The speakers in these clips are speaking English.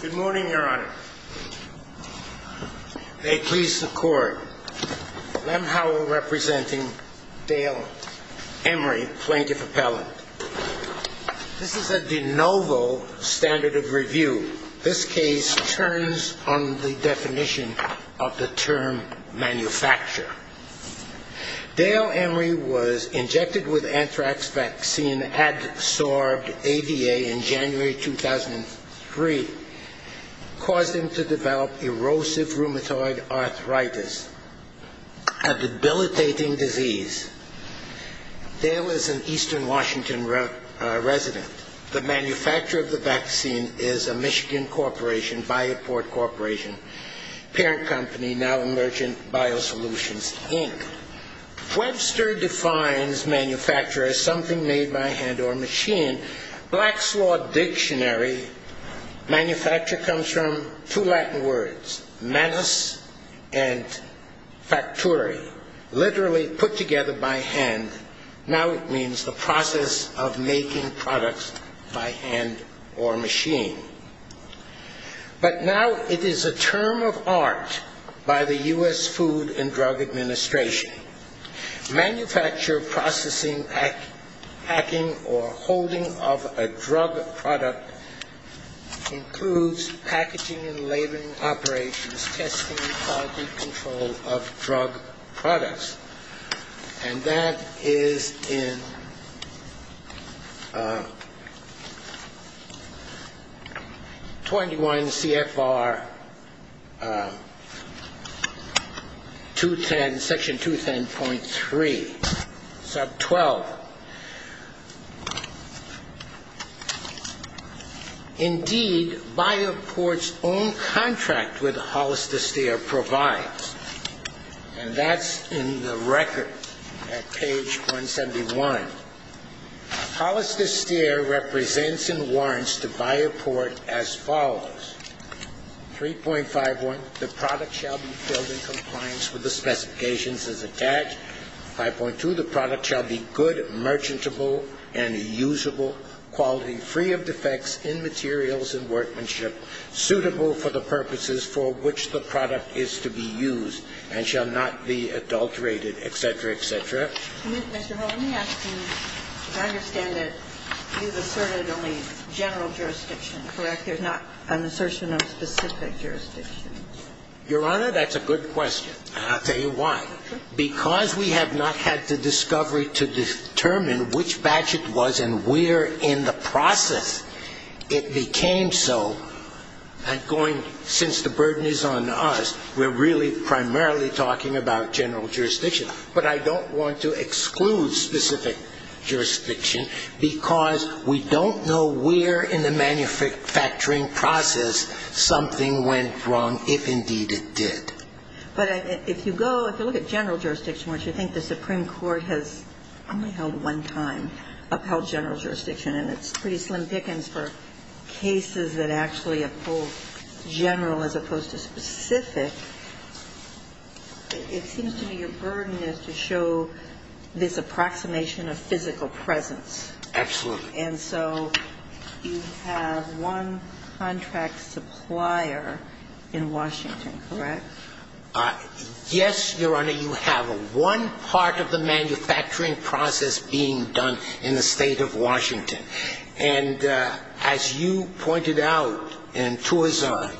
Good morning, your honor. May it please the court. Lem Howell representing Dale Emery, plaintiff appellant. This is a de novo standard of review. This case turns on the definition of the term manufacture. Dale Emery was injected with anthrax vaccine, had absorbed A.D.A. in January 2003. Caused him to develop erosive rheumatoid arthritis, a debilitating disease. Dale is an eastern Washington resident. The manufacturer of the vaccine is a Michigan corporation, Bioport Corporation, parent company, now Emergent Biosolutions, Inc. Webster defines manufacture as something made by hand or machine. Black's Law Dictionary, manufacture comes from two Latin words, manus and factory, literally put together by hand. Now it means the process of making products by hand or machine. But now it is a term of art by the U.S. Food and Drug Administration. Manufacture, processing, packing or holding of a drug product includes packaging and laboring operations, testing and quality control of drug products. And that is in the United States. 21 CFR 210, section 210.3, sub 12. Indeed, Bioport's own contract with Hollister Steer provides, and that's in the record at page 171. Hollister Steer represents and warrants to Bioport as follows. 3.51, the product shall be filled in compliance with the specifications as attached. 5.2, the product shall be good, merchantable and usable, quality free of defects in materials and workmanship, suitable for the purposes for which the product is to be used and shall not be adulterated, et cetera, et cetera. And then, Mr. Holt, let me ask you, because I understand that you've asserted only general jurisdiction, correct? There's not an assertion of specific jurisdiction? Your Honor, that's a good question. And I'll tell you why. Because we have not had the discovery to determine which batch it was and where in the process it became so. And going, since the burden is on us, we're really primarily talking about general jurisdiction. But I don't want to exclude specific jurisdiction because we don't know where in the manufacturing process something went wrong, if indeed it did. But if you go, if you look at general jurisdiction, wouldn't you think the Supreme Court has only held one time upheld general jurisdiction? And it's pretty slim pickings for cases that actually uphold general as opposed to specific. It seems to me your burden is to show this approximation of physical presence. Absolutely. And so you have one contract supplier in Washington, correct? Yes, Your Honor, you have one part of the manufacturing process being done in the state of Washington. And as you pointed out in Tuazon,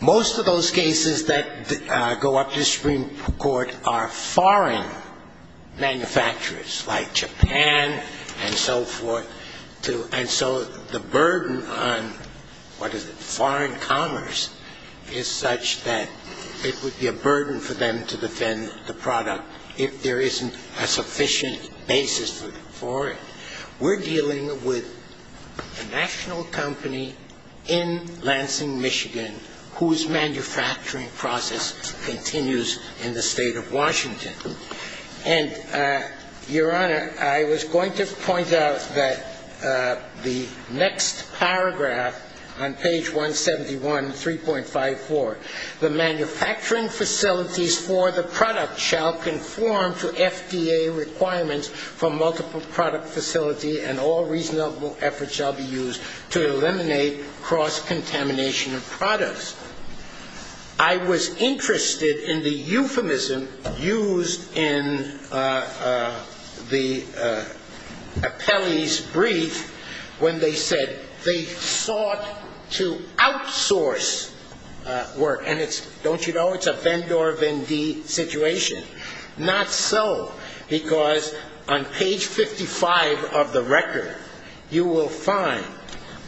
most of those cases that go up to the Supreme Court are foreign manufacturers like Japan and so forth. And so the burden on, what is it, foreign commerce is such that it would be a burden for them to defend the product if there isn't a sufficient basis for it. We're dealing with a national company in Lansing, Michigan, whose manufacturing process continues in the state of Washington. And, Your Honor, I was going to point out that the next paragraph on page 171, 3.54, the manufacturing facilities for the product shall conform to FDA requirements for multiple product facility and all reasonable efforts shall be used to eliminate cross-contamination of products. I was interested in the euphemism used in the appellee's brief when they said they sought to outsource work. And it's, don't you know, it's a Vendor Vendee situation. Not so, because on page 55 of the record, you will find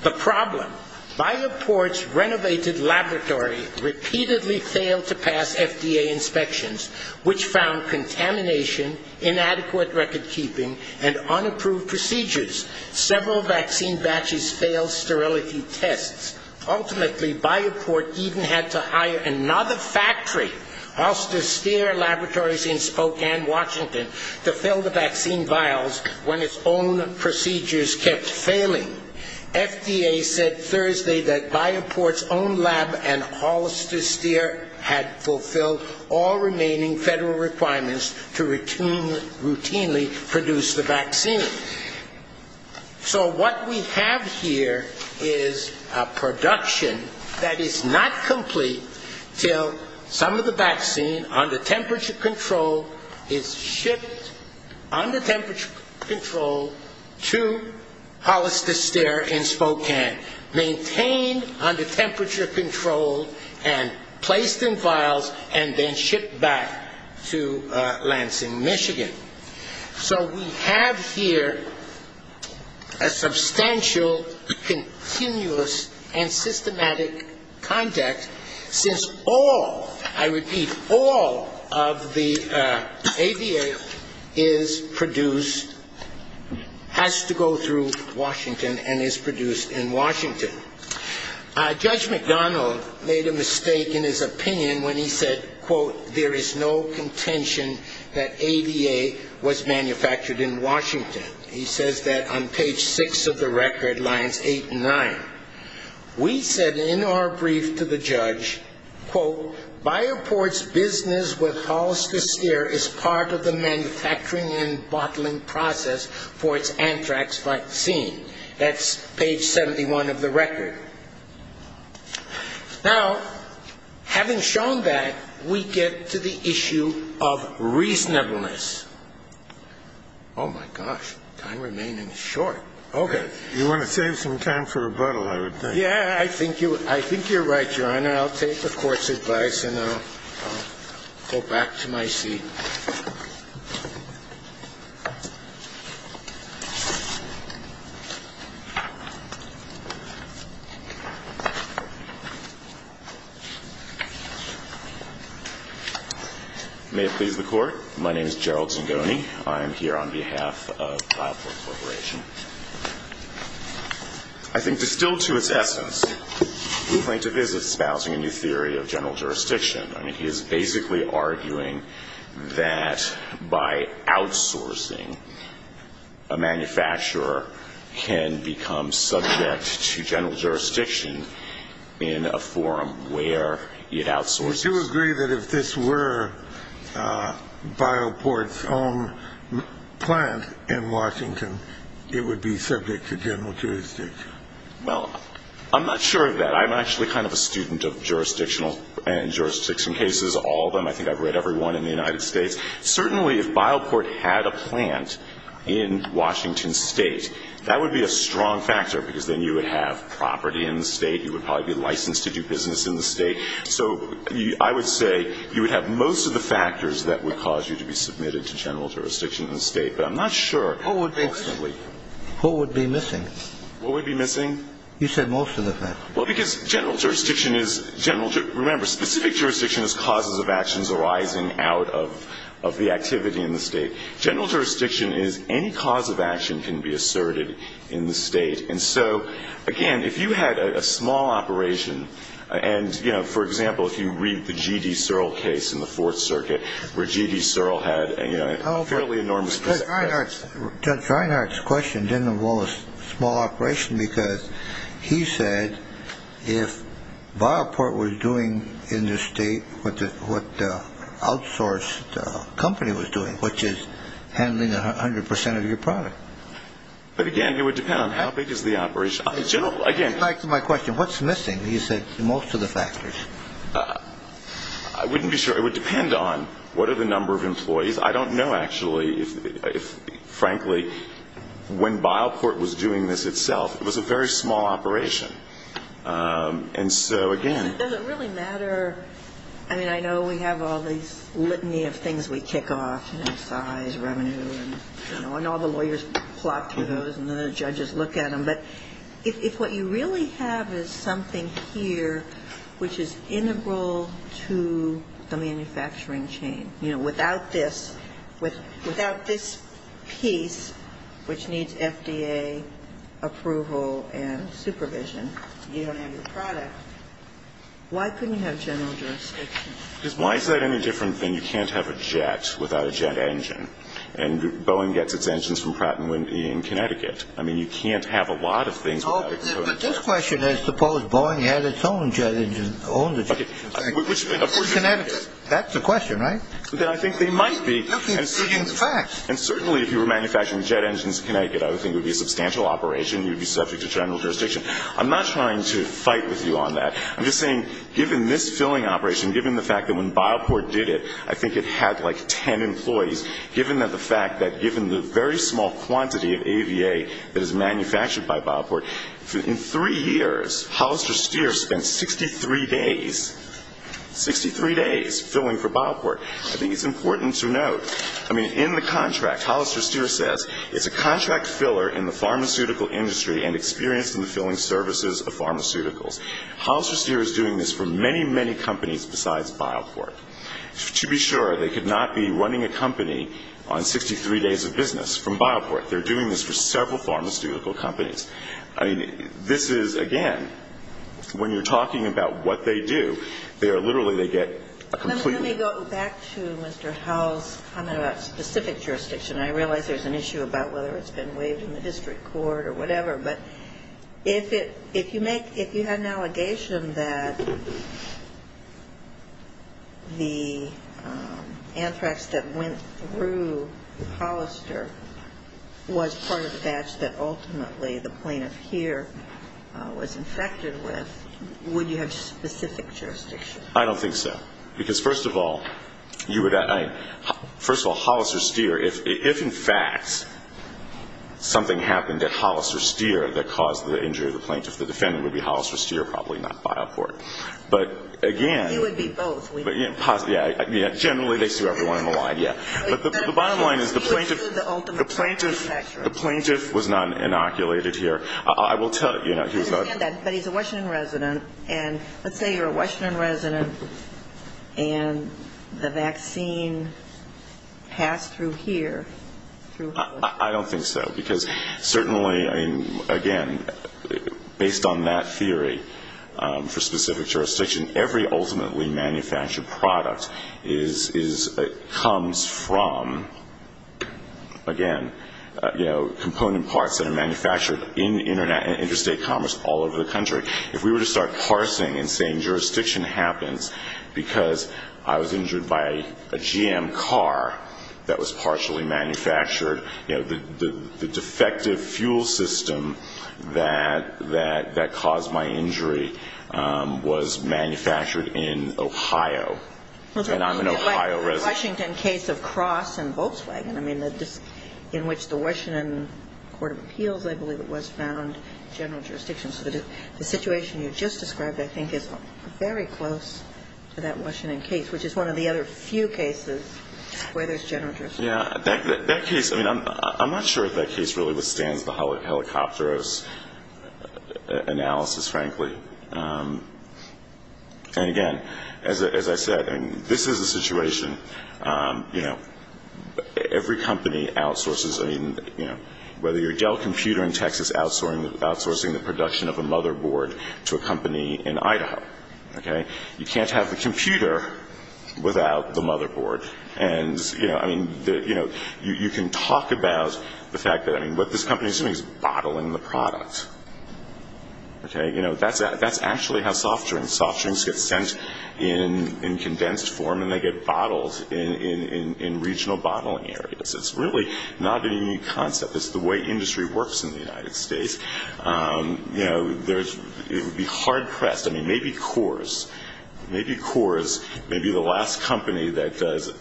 the problem. BioPort's renovated laboratory repeatedly failed to pass FDA inspections, which found contamination, inadequate record-keeping, and unapproved procedures. Several vaccine batches failed sterility tests. Ultimately, BioPort even had to hire another factory, Halster Stier Laboratories in Spokane, Washington, to fill the vaccine vials when its own procedures kept failing. FDA said Thursday that BioPort's own lab and Halster Stier had fulfilled all remaining federal requirements to routinely produce the vaccine. So what we have here is a production that is not complete until some of the vaccine, under temperature control, is shipped under temperature control to Halster Stier in Spokane, maintained under temperature control, and placed in vials and then shipped back to Lansing, Michigan. So we have here a substantial, continuous, and systematic conduct since all, I repeat, all of the ABA is produced, has to go through Washington, and is produced in Washington. Judge McDonald made a mistake in his opinion when he said, quote, there is no contention that ABA was manufactured in Washington. He says that on page six of the record, lines eight and nine, we said in our brief to the judge, quote, BioPort's business with Halster Stier is part of the manufacturing and bottling process for its anthrax vaccine. That's page 71 of the record. Now, having shown that, we get to the issue of reasonableness. Oh, my gosh. Time remaining is short. Okay. You want to save some time for rebuttal, I would think. Yeah, I think you're right, Your Honor. I'll take the Court's advice and I'll go back to my seat. May it please the Court. My name is Gerald Zingoni. I am here on behalf of BioPort Corporation. I think distilled to its essence, we claim to be espousing a new theory of general jurisdiction. That by outsourcing, a manufacturer can become subject to general jurisdiction in a forum where it outsources. Do you agree that if this were BioPort's own plant in Washington, it would be subject to general jurisdiction? Well, I'm not sure of that. I'm actually kind of a student of jurisdictional and jurisdiction cases, all of them. I think I've read every one in the United States. Certainly, if BioPort had a plant in Washington State, that would be a strong factor, because then you would have property in the State. You would probably be licensed to do business in the State. So I would say you would have most of the factors that would cause you to be submitted to general jurisdiction in the State. But I'm not sure. Who would be missing? What would be missing? You said most of the factors. Well, because general jurisdiction is general. Remember, specific jurisdiction is causes of actions arising out of the activity in the State. General jurisdiction is any cause of action can be asserted in the State. And so, again, if you had a small operation, and, you know, for example, if you read the G.D. Searle case in the Fourth Circuit where G.D. Searle had a fairly enormous presence. Judge Reinhart's question didn't involve a small operation, because he said if BioPort was doing in the State what the outsourced company was doing, which is handling 100 percent of your product. But, again, it would depend on how big is the operation. He asked my question, what's missing? He said most of the factors. I wouldn't be sure. It would depend on what are the number of employees. I don't know, actually, if, frankly, when BioPort was doing this itself, it was a very small operation. And so, again. Does it really matter? I mean, I know we have all these litany of things we kick off, you know, size, revenue, and all the lawyers plop through those and the judges look at them. But if what you really have is something here which is integral to the manufacturing chain, you know, without this piece, which needs FDA approval and supervision, you don't have your product. Why couldn't you have general jurisdiction? Why is that any different than you can't have a jet without a jet engine? And Boeing gets its engines from Pratt & Whitney in Connecticut. I mean, you can't have a lot of things without a jet engine. But this question is suppose Boeing had its own jet engine, owned a jet engine. Connecticut. That's the question, right? I think they might be. And certainly if you were manufacturing jet engines in Connecticut, I would think it would be a substantial operation. You would be subject to general jurisdiction. I'm not trying to fight with you on that. I'm just saying given this filling operation, given the fact that when BioPort did it, I think it had like ten employees, given the fact that given the very small quantity of AVA that is manufactured by BioPort, in three years, Hollister Steer spent 63 days, 63 days, filling for BioPort. I think it's important to note, I mean, in the contract, Hollister Steer says, it's a contract filler in the pharmaceutical industry and experience in the filling services of pharmaceuticals. Hollister Steer is doing this for many, many companies besides BioPort. To be sure, they could not be running a company on 63 days of business from BioPort. They're doing this for several pharmaceutical companies. I mean, this is, again, when you're talking about what they do, they are literally, they get a completely ñ Let me go back to Mr. Howell's comment about specific jurisdiction. I realize there's an issue about whether it's been waived in the district court or whatever. But if you had an allegation that the anthrax that went through Hollister was part of a batch that ultimately the plaintiff here was infected with, would you have specific jurisdiction? I don't think so. Because first of all, you would ñ first of all, Hollister Steer, if in fact something happened at Hollister Steer that caused the injury of the plaintiff, the defendant would be Hollister Steer, probably not BioPort. But again ñ It would be both. Yeah, generally they sue everyone in the line, yeah. But the bottom line is the plaintiff was not inoculated here. I will tell you ñ I understand that. But he's a Washington resident. And let's say you're a Washington resident and the vaccine passed through here, through Hollister. I don't think so. Because certainly, again, based on that theory for specific jurisdiction, every ultimately manufactured product comes from, again, component parts that are manufactured in interstate commerce all over the country. If we were to start parsing and saying jurisdiction happens because I was injured by a GM car that was partially manufactured, you know, the defective fuel system that caused my injury was manufactured in Ohio. And I'm an Ohio resident. Well, that would be like the Washington case of Cross and Volkswagen. I mean, in which the Washington Court of Appeals, I believe it was, found general jurisdiction. So the situation you just described, I think, is very close to that Washington case, which is one of the other few cases where there's general jurisdiction. Yeah. That case ñ I mean, I'm not sure if that case really withstands the helicopterous analysis, frankly. And, again, as I said, I mean, this is a situation, you know, every company outsources. I mean, you know, whether you're Dell Computer in Texas outsourcing the production of a motherboard to a company in Idaho. Okay? You can't have the computer without the motherboard. And, you know, I mean, you can talk about the fact that, I mean, what this company is doing is bottling the product. Okay? You know, that's actually how soft drinks ñ soft drinks get sent in condensed form and they get bottled in regional bottling areas. It's really not a new concept. It's the way industry works in the United States. You know, there's ñ it would be hard-pressed. I mean, maybe Coors. Maybe Coors may be the last company that does,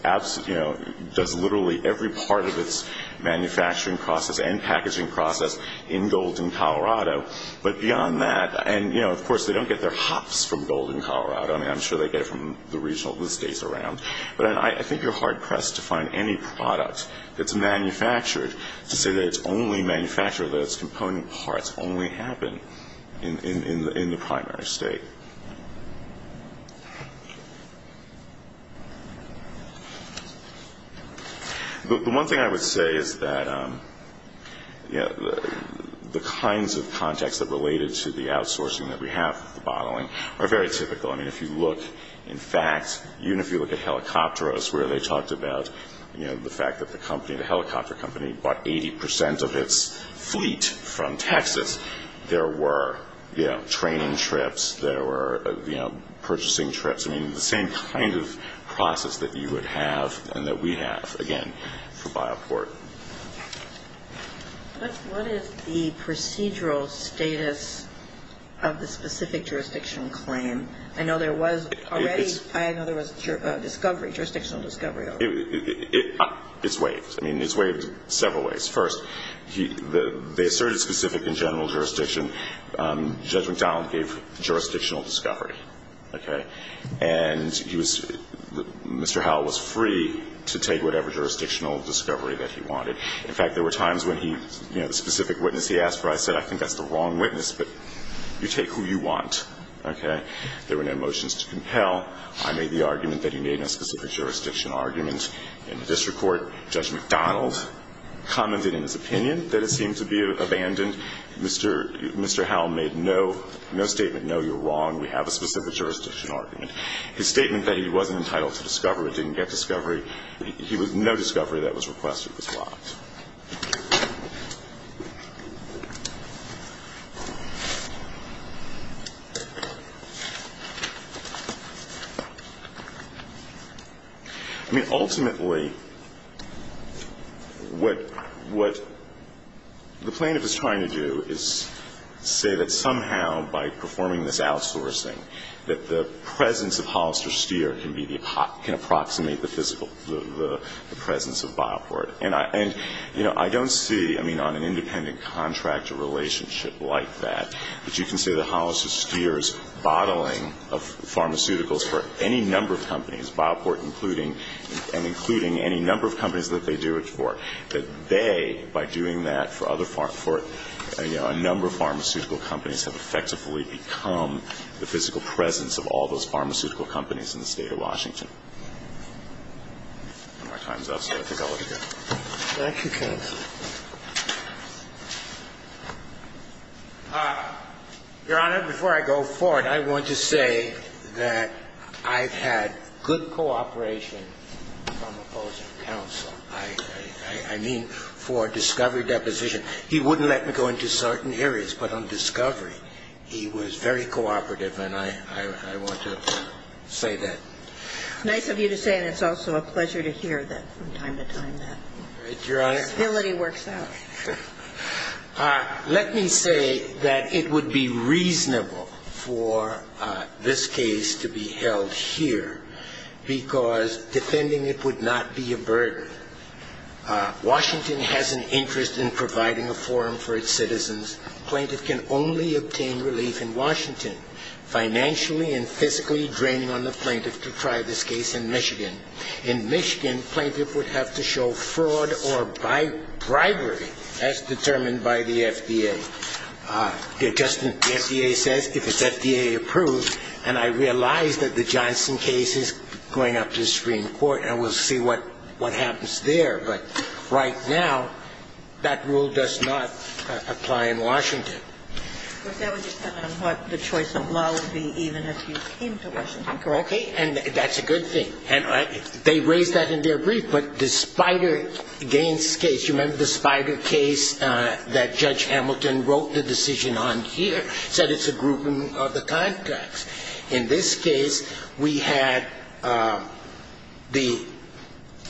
you know, does literally every part of its manufacturing process and packaging process in gold in Colorado. But beyond that ñ and, you know, of course, they don't get their hops from gold in Colorado. I mean, I'm sure they get it from the regional ñ the states around. But I think you're hard-pressed to find any product that's manufactured to say that it's only manufactured, that its component parts only happen in the primary state. The one thing I would say is that, you know, the kinds of contexts that are related to the outsourcing that we have, the bottling, are very typical. I mean, if you look, in fact, even if you look at Helicopteros, where they talked about, you know, the fact that the company, the helicopter company, bought 80 percent of its fleet from Texas, there were, you know, training trips. There were, you know, purchasing trips. I mean, the same kind of process that you would have and that we have, again, for BioPort. But what is the procedural status of the specific jurisdictional claim? I know there was already ñ I know there was discovery, jurisdictional discovery. It's waived. I mean, it's waived several ways. First, they asserted specific and general jurisdiction. Judge McDonald gave jurisdictional discovery, okay? And he was ñ Mr. Howell was free to take whatever jurisdictional discovery that he wanted. In fact, there were times when he, you know, the specific witness he asked for, I said, I think that's the wrong witness, but you take who you want, okay? There were no motions to compel. I made the argument that he made a specific jurisdiction argument in the district court. Judge McDonald commented in his opinion that it seemed to be abandoned. Mr. ñ Mr. Howell made no ñ no statement, no, you're wrong, we have a specific jurisdiction argument. His statement that he wasn't entitled to discovery, didn't get discovery, he was ñ no discovery that was requested was blocked. I mean, ultimately, what ñ what the plaintiff is trying to do is say that somehow by performing this outsourcing that the presence of Hollister Steer can be the ñ can approximate the physical ñ the presence of Bioport. And I ñ and, you know, I don't see, I mean, on an independent contract a relationship like that that you can say that Hollister Steer's bottling of pharmaceuticals for any number of companies, Bioport including ñ and including any number of companies that they do it for, that they, by doing that for other ñ for, you know, a number of pharmaceutical companies have effectively become the physical presence of all those pharmaceutical companies in the State of Washington. My time's up, so I think I'll let you go. Thank you, counsel. Your Honor, before I go forward, I want to say that I've had good cooperation from opposing counsel. I mean, for discovery deposition. He wouldn't let me go into certain areas, but on discovery, he was very cooperative and I want to say that. It's nice of you to say that. It's also a pleasure to hear that from time to time, that stability works out. Your Honor, let me say that it would be reasonable for this case to be held here because defending it would not be a burden. Washington has an interest in providing a forum for its citizens. Plaintiff can only obtain relief in Washington. Financially and physically draining on the plaintiff to try this case in Michigan. In Michigan, plaintiff would have to show fraud or bribery as determined by the FDA. The FDA says if it's FDA approved, and I realize that the Johnson case is going up in the industry in court, and we'll see what happens there. But right now, that rule does not apply in Washington. But that would depend on what the choice of law would be even if you came to Washington, correct? Okay. And that's a good thing. And they raised that in their brief. But the Spider Gaines case, you remember the Spider case that Judge Hamilton wrote the decision on here, said it's a grouping of the contracts. In this case, we had the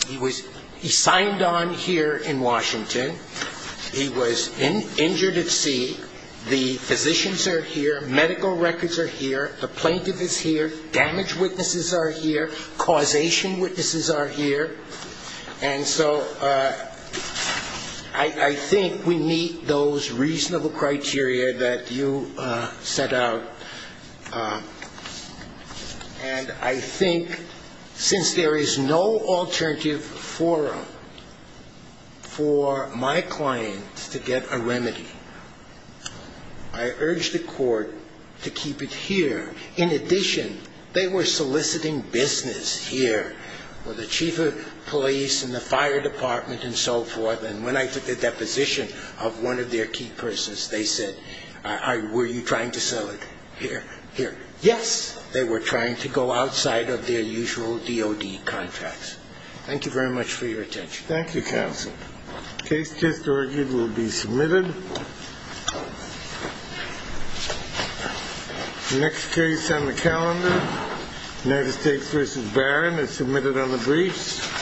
he was he signed on here in Washington. He was injured at sea. The physicians are here. Medical records are here. The plaintiff is here. Damage witnesses are here. Causation witnesses are here. And so I think we meet those reasonable criteria that you set out. And I think since there is no alternative forum for my client to get a remedy, I urge the court to keep it here. In addition, they were soliciting business here with the chief of police and the fire department and so forth. And when I took the deposition of one of their key persons, they said, were you trying to sell it here? Here. Yes. They were trying to go outside of their usual DOD contracts. Thank you very much for your attention. Thank you, counsel. Case just argued will be submitted. Next case on the calendar. United States versus Barron is submitted on the briefs.